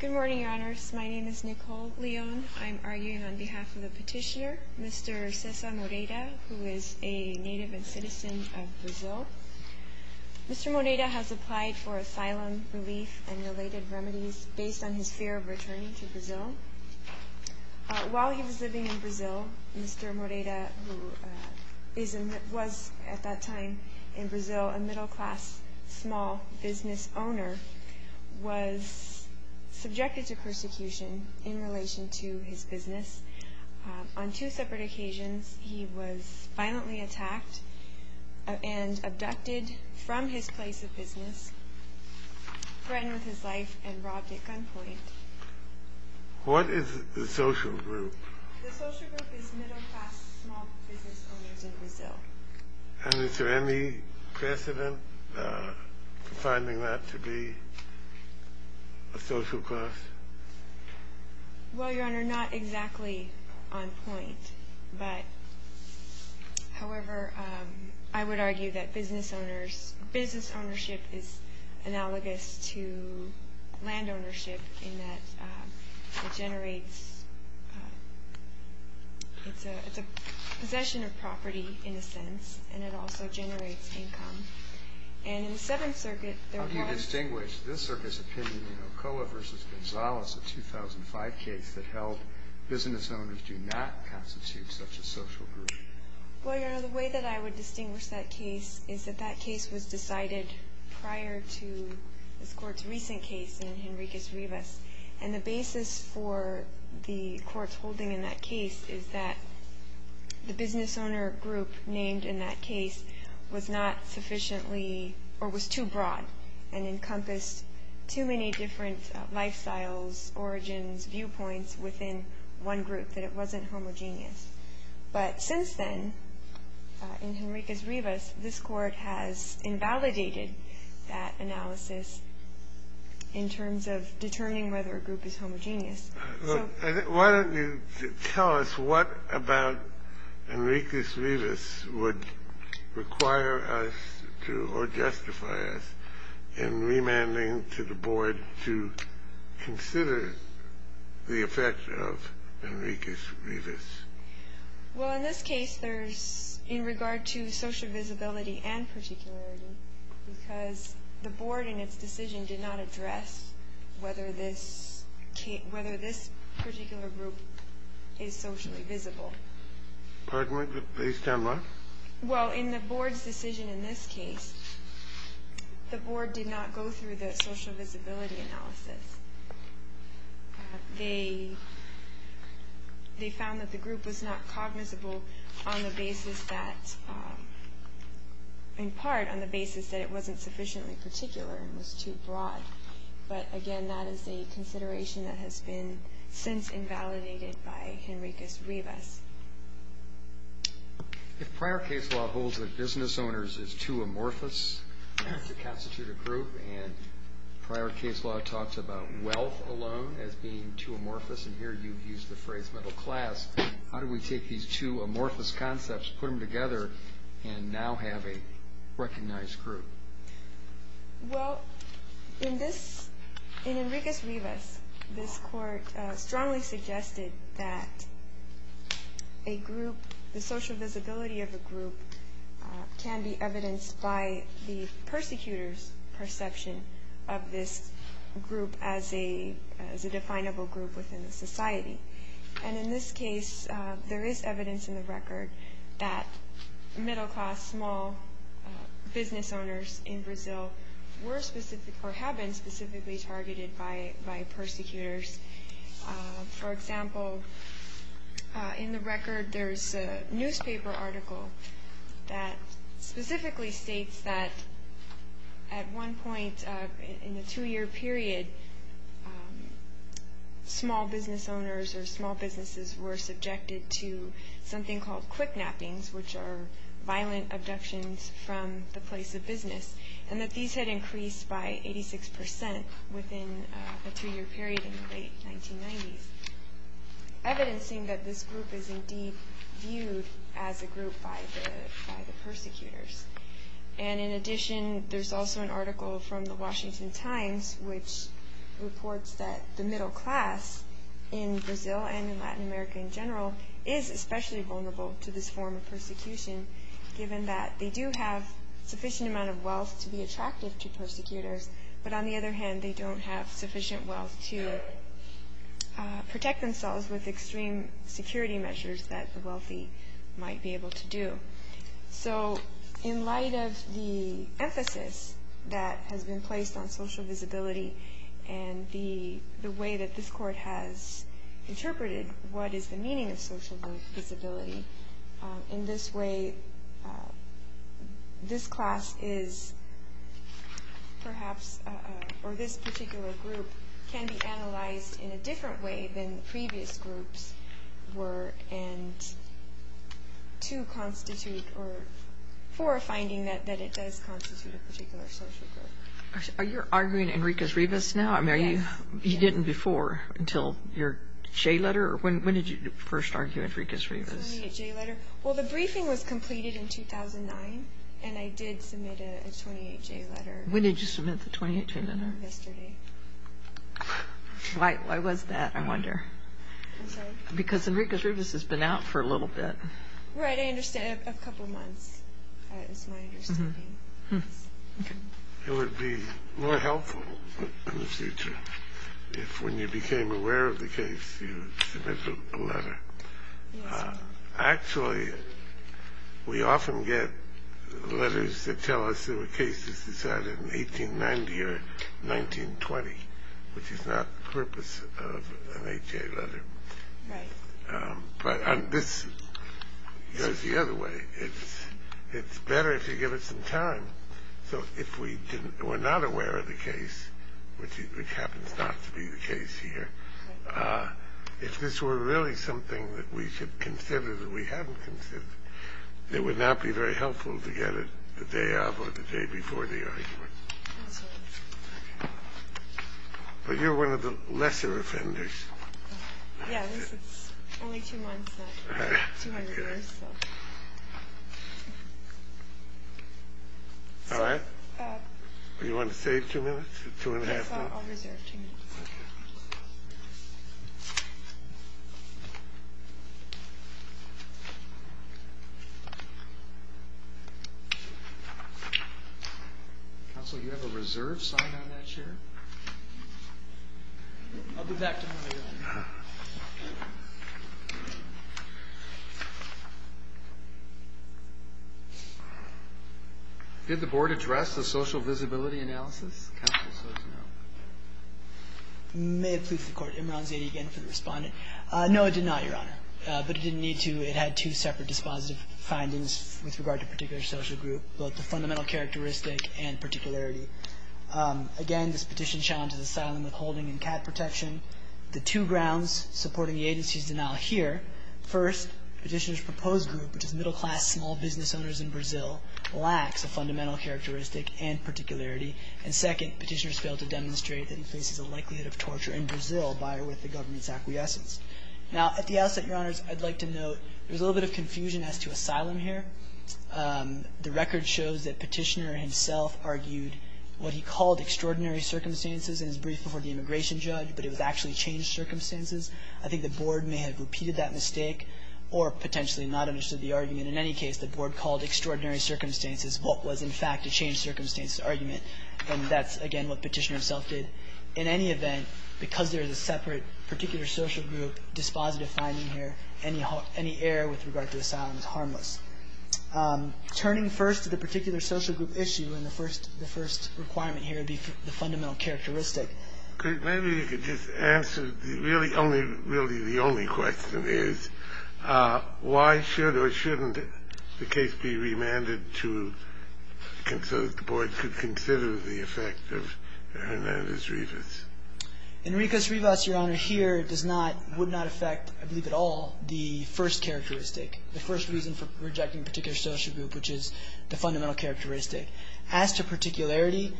Good morning, Your Honors. My name is Nicole Leon. I'm arguing on behalf of the petitioner, Mr. Cesar Moriera, who is a native and citizen of Brazil. Mr. Moriera has applied for asylum relief and related remedies based on his fear of returning to Brazil. While he was living in Brazil, Mr. Moriera, who was at that time in Brazil a middle class small business owner, was subjected to persecution in relation to his business. On two separate occasions, he was violently attacked and abducted from his place of business, threatened with his life, and robbed at gunpoint. What is the social group? The social group is middle class small business owners in Brazil. And is there any precedent for finding that to be a social class? Well, Your Honor, not exactly on point. However, I would argue that business ownership is analogous to land ownership in that it's a possession of property, in a sense, and it also generates income. How do you distinguish this circuit's opinion in Okola v. Gonzalez, a 2005 case that held business owners do not constitute such a social group? Well, Your Honor, the way that I would distinguish that case is that that case was decided prior to this Court's recent case in Henriquez Rivas. And the basis for the Court's holding in that case is that the business owner group named in that case was not sufficiently, or was too broad, and encompassed too many different lifestyles, origins, viewpoints within one group, that it wasn't homogeneous. But since then, in Henriquez Rivas, this Court has invalidated that analysis in terms of determining whether a group is homogeneous. Why don't you tell us what about Henriquez Rivas would require us to, or justify us in remanding to the Board to consider the effect of Henriquez Rivas? Well, in this case, there's, in regard to social visibility and particularity, because the Board, in its decision, did not address whether this particular group is socially visible. Pardon me, please stand by. Well, in the Board's decision in this case, the Board did not go through the social visibility analysis. They found that the group was not cognizable on the basis that, in part, on the basis that it wasn't sufficiently particular and was too broad. But again, that is a consideration that has been since invalidated by Henriquez Rivas. If prior case law holds that business owners is too amorphous to constitute a group, and prior case law talks about wealth alone as being too amorphous, and here you've used the phrase middle class, how do we take these two amorphous concepts, put them together, and now have a recognized group? Well, in this, in Henriquez Rivas, this Court strongly suggested that a group, the social visibility of a group, can be evidenced by the persecutor's perception of this group as a definable group within the society. And in this case, there is evidence in the record that middle class, small business owners in Brazil were specific, or have been specifically targeted by persecutors. For example, in the record, there's a newspaper article that specifically states that at one point in the two-year period, small business owners or small businesses were subjected to something called quick nappings, which are violent abductions from the place of business, and that these had increased by 86% within a two-year period in the late 1990s, evidencing that this group is indeed viewed as a group by the persecutors. And in addition, there's also an article from the Washington Times, which reports that the middle class in Brazil and in Latin America in general is especially vulnerable to this form of persecution, given that they do have sufficient amount of wealth to be attractive to persecutors, but on the other hand, they don't have sufficient wealth to protect themselves with extreme security measures that the wealthy might be able to do. So, in light of the emphasis that has been placed on social visibility and the way that this court has interpreted what is the meaning of social visibility, in this way, this class is perhaps, or this particular group, can be analyzed in a different way than previous groups were, and to constitute, or for a finding that it does constitute a particular social group. Are you arguing Enriquez-Rivas now? Yes. You didn't before, until your J letter? When did you first argue Enriquez-Rivas? The J letter. Well, the briefing was completed in 2009, and I did submit a 28-J letter. When did you submit the 28-J letter? Yesterday. Why was that, I wonder? I'm sorry? Because Enriquez-Rivas has been out for a little bit. Right, I understand. A couple months, is my understanding. It would be more helpful in the future if when you became aware of the case, you submitted a letter. Actually, we often get letters that tell us there were cases decided in 1890 or 1920, which is not the purpose of an 8-J letter. Right. But this goes the other way. It's better if you give it some time. So if we were not aware of the case, which happens not to be the case here, if this were really something that we should consider that we haven't considered, it would not be very helpful to get it the day of or the day before the argument. That's right. But you're one of the lesser offenders. Yes, it's only two months, not 200 years. All right. Do you want to save two minutes, two and a half minutes? I'll reserve two minutes. Counsel, do you have a reserve sign on that chair? I'll give that to him later on. Did the Board address the social visibility analysis? Counsel says no. May it please the Court. Imran Zaidi again for the Respondent. No, it did not, Your Honor. But it didn't need to. It had two separate dispositive findings with regard to particular social group, both the fundamental characteristic and particularity. Again, this petition challenges asylum with holding and cat protection. The two grounds supporting the agency's denial here, first, Petitioner's proposed group, which is middle class small business owners in Brazil, lacks a fundamental characteristic and particularity. And second, Petitioner's failed to demonstrate that he faces a likelihood of torture in Brazil by or with the government's acquiescence. Now, at the outset, Your Honors, I'd like to note there's a little bit of confusion as to asylum here. The record shows that Petitioner himself argued what he called extraordinary circumstances in his brief before the immigration judge, but it was actually changed circumstances. I think the Board may have repeated that mistake or potentially not understood the argument. In any case, the Board called extraordinary circumstances what was, in fact, a changed circumstances argument. And that's, again, what Petitioner himself did. In any event, because there is a separate particular social group dispositive finding here, any error with regard to asylum is harmless. Turning first to the particular social group issue, and the first requirement here would be the fundamental characteristic. Maybe you could just answer really the only question is, why should or shouldn't the case be remanded so that the Board could consider the effect of Hernandez-Rivas? Enriquez-Rivas, Your Honor, here does not, would not affect, I believe at all, the first characteristic, the first reason for rejecting a particular social group, which is the fundamental characteristic. As to particularity,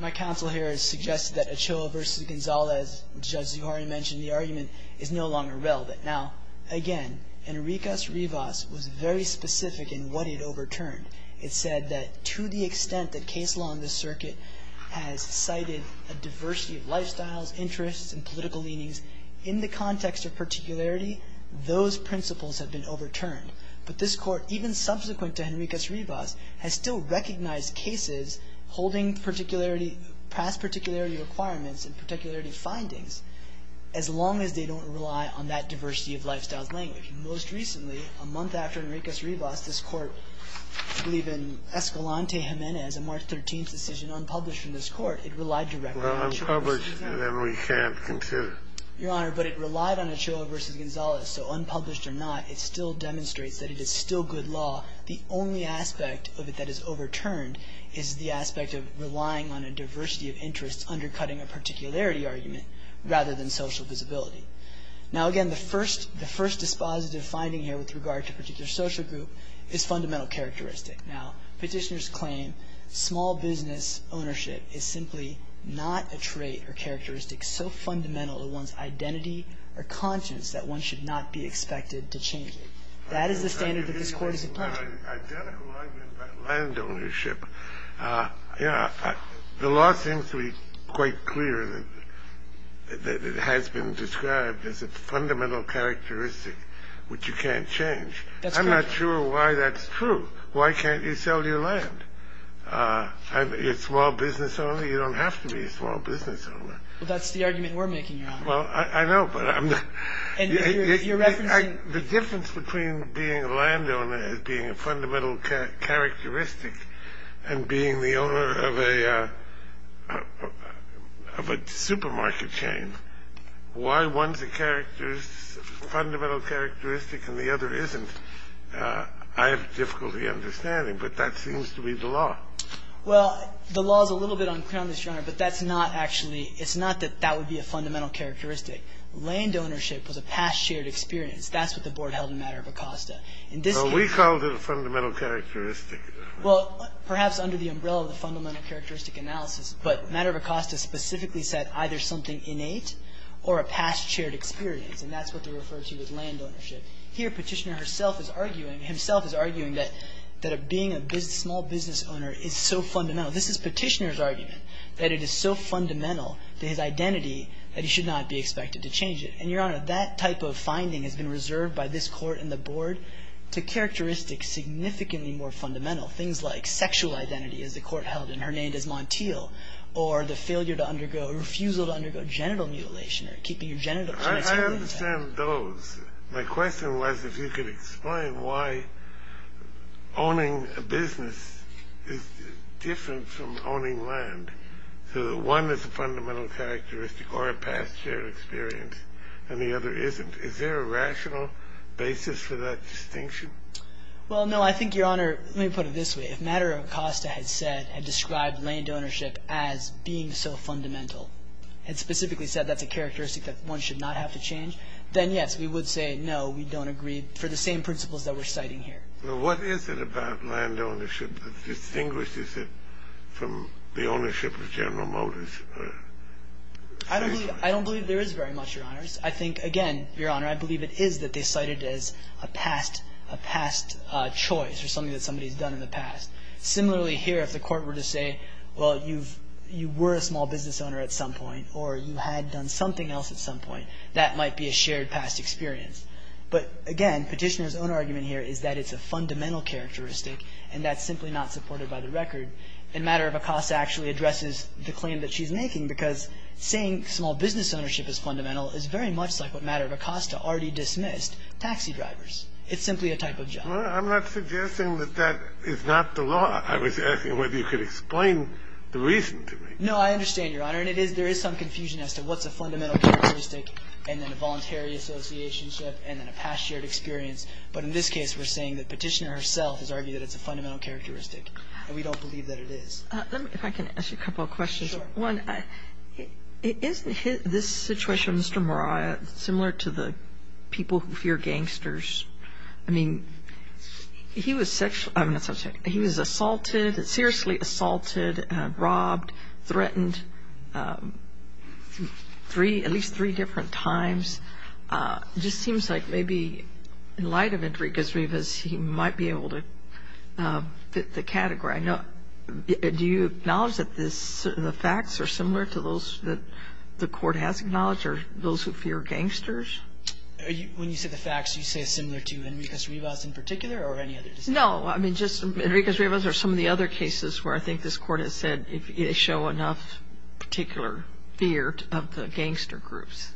my counsel here has suggested that Ochoa v. Gonzalez, which Judge Zuhari mentioned in the argument, is no longer relevant. Now, again, Enriquez-Rivas was very specific in what it overturned. It said that to the extent that case law in this circuit has cited a diversity of lifestyles, interests, and political leanings, in the context of particularity, those principles have been overturned. But this Court, even subsequent to Enriquez-Rivas, has still recognized cases holding particularity, past particularity requirements and particularity findings, as long as they don't rely on that diversity of lifestyles language. Most recently, a month after Enriquez-Rivas, this Court, I believe in Escalante-Gimenez, a March 13th decision unpublished from this Court, it relied directly on Ochoa v. Gonzalez. Well, unpublished, then we can't consider. Your Honor, but it relied on Ochoa v. Gonzalez. So unpublished or not, it still demonstrates that it is still good law. The only aspect of it that is overturned is the aspect of relying on a diversity of interests undercutting a particularity argument rather than social visibility. Now, again, the first dispositive finding here with regard to a particular social group is fundamental characteristic. Now, Petitioners claim small business ownership is simply not a trait or characteristic so fundamental to one's identity or conscience that one should not be expected to change it. That is the standard that this Court is applying. I have an identical argument about land ownership. The law seems to be quite clear that it has been described as a fundamental characteristic, which you can't change. I'm not sure why that's true. Why can't you sell your land? You're a small business owner? You don't have to be a small business owner. Well, that's the argument we're making, Your Honor. Well, I know, but I'm not. The difference between being a landowner as being a fundamental characteristic and being the owner of a supermarket chain, why one's a fundamental characteristic and the other isn't, I have difficulty understanding. But that seems to be the law. Well, the law is a little bit unclear on this, Your Honor, but that's not actually it's not that that would be a fundamental characteristic. Land ownership was a past shared experience. That's what the Board held in Matter of Acosta. Well, we called it a fundamental characteristic. Well, perhaps under the umbrella of the fundamental characteristic analysis, but Matter of Acosta specifically said either something innate or a past shared experience, and that's what they refer to as land ownership. Here Petitioner himself is arguing that being a small business owner is so fundamental. This is Petitioner's argument, that it is so fundamental to his identity that he should not be expected to change it. And, Your Honor, that type of finding has been reserved by this Court and the Board to characteristics significantly more fundamental, things like sexual identity, as the Court held and her name is Montiel, or the failure to undergo or refusal to undergo genital mutilation or keeping your genitals. I understand those. My question was if you could explain why owning a business is different from owning land, so that one is a fundamental characteristic or a past shared experience and the other isn't. Is there a rational basis for that distinction? Well, no, I think, Your Honor, let me put it this way. If Matter of Acosta had said and described land ownership as being so fundamental and specifically said that's a characteristic that one should not have to change, then, yes, we would say no, we don't agree for the same principles that we're citing here. What is it about land ownership that distinguishes it from the ownership of General Motors? I don't believe there is very much, Your Honors. I think, again, Your Honor, I believe it is that they cite it as a past choice or something that somebody has done in the past. Similarly here, if the Court were to say, well, you were a small business owner at some point or you had done something else at some point, that might be a shared past experience. But, again, Petitioner's own argument here is that it's a fundamental characteristic and that's simply not supported by the record. And Matter of Acosta actually addresses the claim that she's making because saying small business ownership is fundamental is very much like what Matter of Acosta already dismissed, taxi drivers. It's simply a type of job. I'm not suggesting that that is not the law. I was asking whether you could explain the reason to me. No, I understand, Your Honor. And there is some confusion as to what's a fundamental characteristic and then a voluntary associationship and then a past shared experience. But in this case, we're saying that Petitioner herself has argued that it's a fundamental characteristic and we don't believe that it is. If I can ask you a couple of questions. Sure. One, isn't this situation, Mr. Moriah, similar to the people who fear gangsters? I mean, he was sexually – I'm sorry. He was assaulted, seriously assaulted, robbed, threatened three – at least three different times. It just seems like maybe in light of Intrigue Es Rivas, he might be able to fit the category. Do you acknowledge that the facts are similar to those that the court has acknowledged or those who fear gangsters? When you say the facts, you say it's similar to Intrigue Es Rivas in particular or any other? No. I mean, just Intrigue Es Rivas or some of the other cases where I think this Court has said they show enough particular fear of the gangster groups.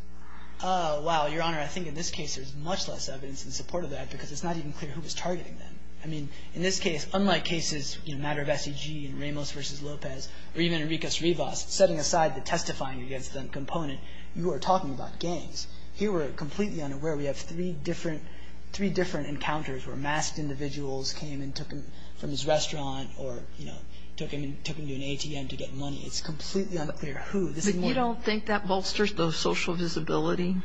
Wow. Your Honor, I think in this case there's much less evidence in support of that because it's not even clear who was targeting them. I mean, in this case, unlike cases, you know, matter of SEG and Ramos v. Lopez or even Intrigue Es Rivas, setting aside the testifying against them component, you are talking about gangs. Here we're completely unaware. We have three different encounters where masked individuals came and took him from his restaurant or, you know, took him to an ATM to get money. It's completely unclear who. But you don't think that bolsters the social visibility?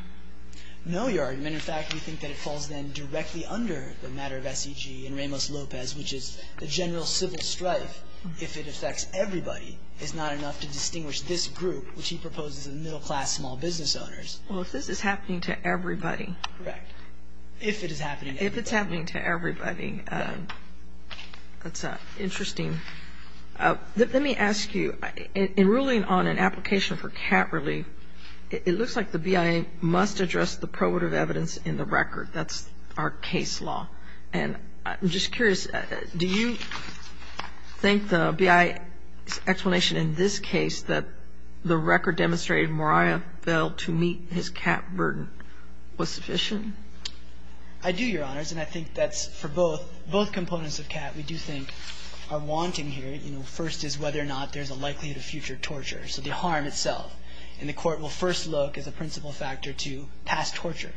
No, Your Honor. In fact, we think that it falls then directly under the matter of SEG and Ramos v. Lopez, which is the general civil strife. If it affects everybody, it's not enough to distinguish this group, which he proposes as middle-class small business owners. Well, if this is happening to everybody. Correct. If it is happening to everybody. If it's happening to everybody. That's interesting. Let me ask you, in ruling on an application for cat relief, it looks like the BIA must address the probative evidence in the record. That's our case law. And I'm just curious, do you think the BIA's explanation in this case, that the record demonstrated Moriah failed to meet his cat burden, was sufficient? I do, Your Honors. And I think that's for both. Both components of cat we do think are wanting here. You know, first is whether or not there's a likelihood of future torture. So the harm itself. And the Court will first look as a principal factor to past torture.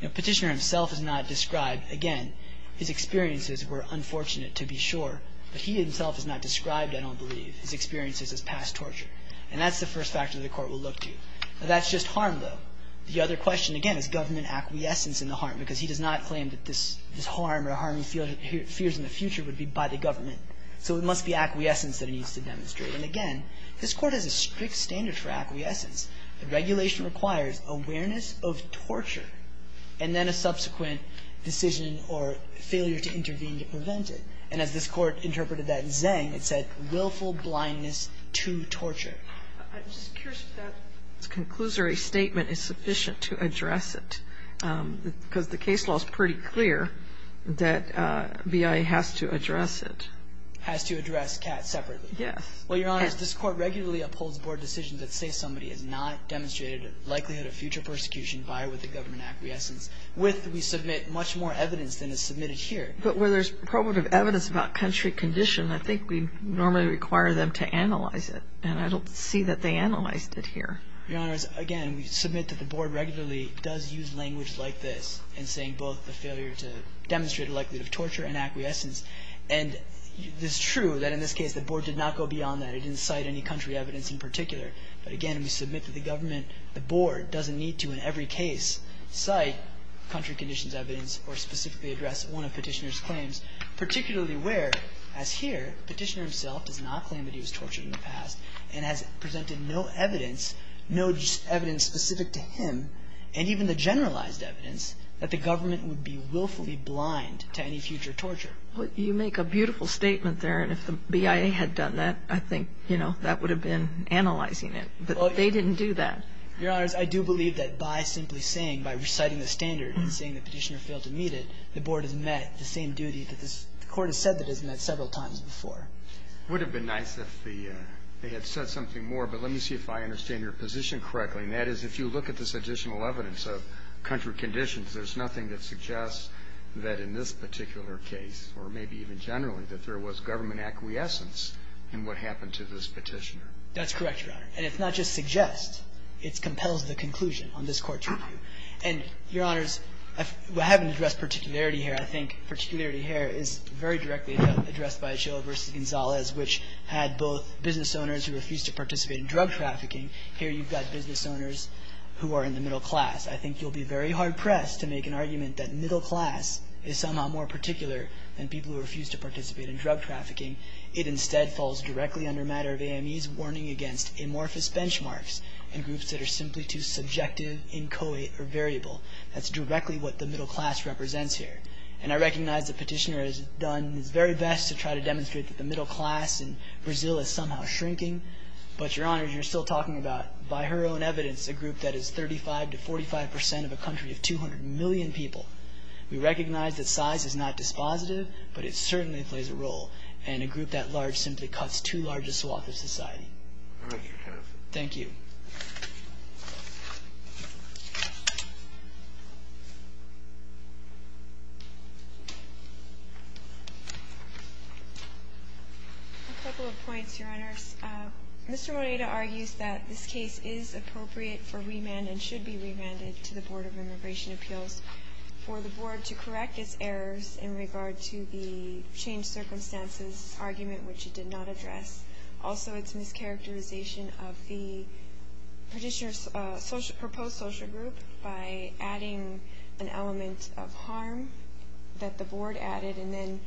You know, Petitioner himself has not described, again, his experiences were unfortunate to be sure. But he himself has not described, I don't believe, his experiences as past torture. And that's the first factor the Court will look to. That's just harm, though. The other question, again, is government acquiescence in the harm. Because he does not claim that this harm or harming fears in the future would be by the government. So it must be acquiescence that he needs to demonstrate. And, again, this Court has a strict standard for acquiescence. The regulation requires awareness of torture. And then a subsequent decision or failure to intervene to prevent it. And as this Court interpreted that in Zhang, it said willful blindness to torture. I'm just curious if that conclusory statement is sufficient to address it. Because the case law is pretty clear that BIA has to address it. Has to address cat separately. Yes. Well, Your Honor, this Court regularly upholds board decisions that say somebody has not demonstrated likelihood of future persecution by or with the government acquiescence. With we submit much more evidence than is submitted here. But where there's probative evidence about country condition, I think we normally require them to analyze it. And I don't see that they analyzed it here. Your Honor, again, we submit that the board regularly does use language like this in saying both the failure to demonstrate likelihood of torture and acquiescence. And it's true that in this case the board did not go beyond that. It didn't cite any country evidence in particular. But, again, we submit that the government, the board, doesn't need to in every case cite country conditions evidence or specifically address one of Petitioner's claims. Particularly where, as here, Petitioner himself does not claim that he was tortured in the past and has presented no evidence, no evidence specific to him, and even the generalized evidence that the government would be willfully blind to any future torture. Well, you make a beautiful statement there. And if the BIA had done that, I think, you know, that would have been analyzing it. But they didn't do that. Your Honors, I do believe that by simply saying, by reciting the standard and saying that Petitioner failed to meet it, the board has met the same duty that this court has said that it has met several times before. It would have been nice if they had said something more. But let me see if I understand your position correctly. And that is, if you look at this additional evidence of country conditions, there's nothing that suggests that in this particular case, or maybe even generally, that there was government acquiescence in what happened to this Petitioner. That's correct, Your Honor. And it's not just suggest. It compels the conclusion on this Court's review. And, Your Honors, I haven't addressed particularity here. I think particularity here is very directly addressed by Achilla v. Gonzalez, which had both business owners who refused to participate in drug trafficking. Here you've got business owners who are in the middle class. I think you'll be very hard-pressed to make an argument that middle class is somehow more particular than people who refuse to participate in drug trafficking. It instead falls directly under matter of AME's warning against amorphous benchmarks and groups that are simply too subjective, inchoate, or variable. That's directly what the middle class represents here. And I recognize that Petitioner has done his very best to try to demonstrate that the middle class in Brazil is somehow shrinking. But, Your Honors, you're still talking about, by her own evidence, a group that is 35 to 45 percent of a country of 200 million people. And a group that large simply cuts too large a swath of society. Thank you. A couple of points, Your Honors. Mr. Moneda argues that this case is appropriate for remand and should be remanded to the Board of Immigration Appeals for the Board to correct its errors in regard to the changed circumstances argument which it did not address. Also, its mischaracterization of the Petitioner's proposed social group by adding an element of harm that the Board added and then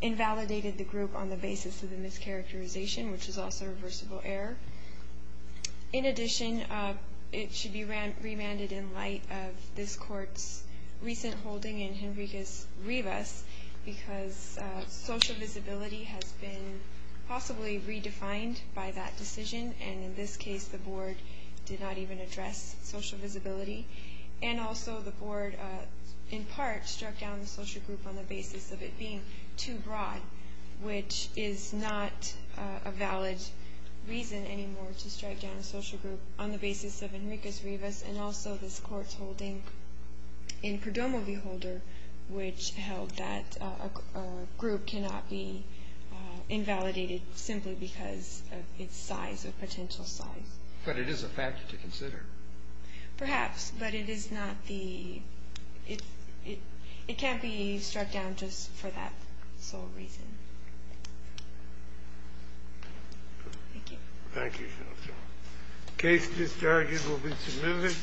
invalidated the group on the basis of the mischaracterization, which is also a reversible error. In addition, it should be remanded in light of this Court's recent holding in Henriquez-Rivas because social visibility has been possibly redefined by that decision. And in this case, the Board did not even address social visibility. And also, the Board, in part, struck down the social group on the basis of it being too broad, which is not a valid reason anymore to strike down a social group on the basis of Henriquez-Rivas and also this Court's holding in Perdomo v. Holder, which held that a group cannot be invalidated simply because of its size or potential size. Perhaps, but it is not the – it can't be struck down just for that sole reason. Thank you. Thank you, Counselor. The case discharges will be submitted.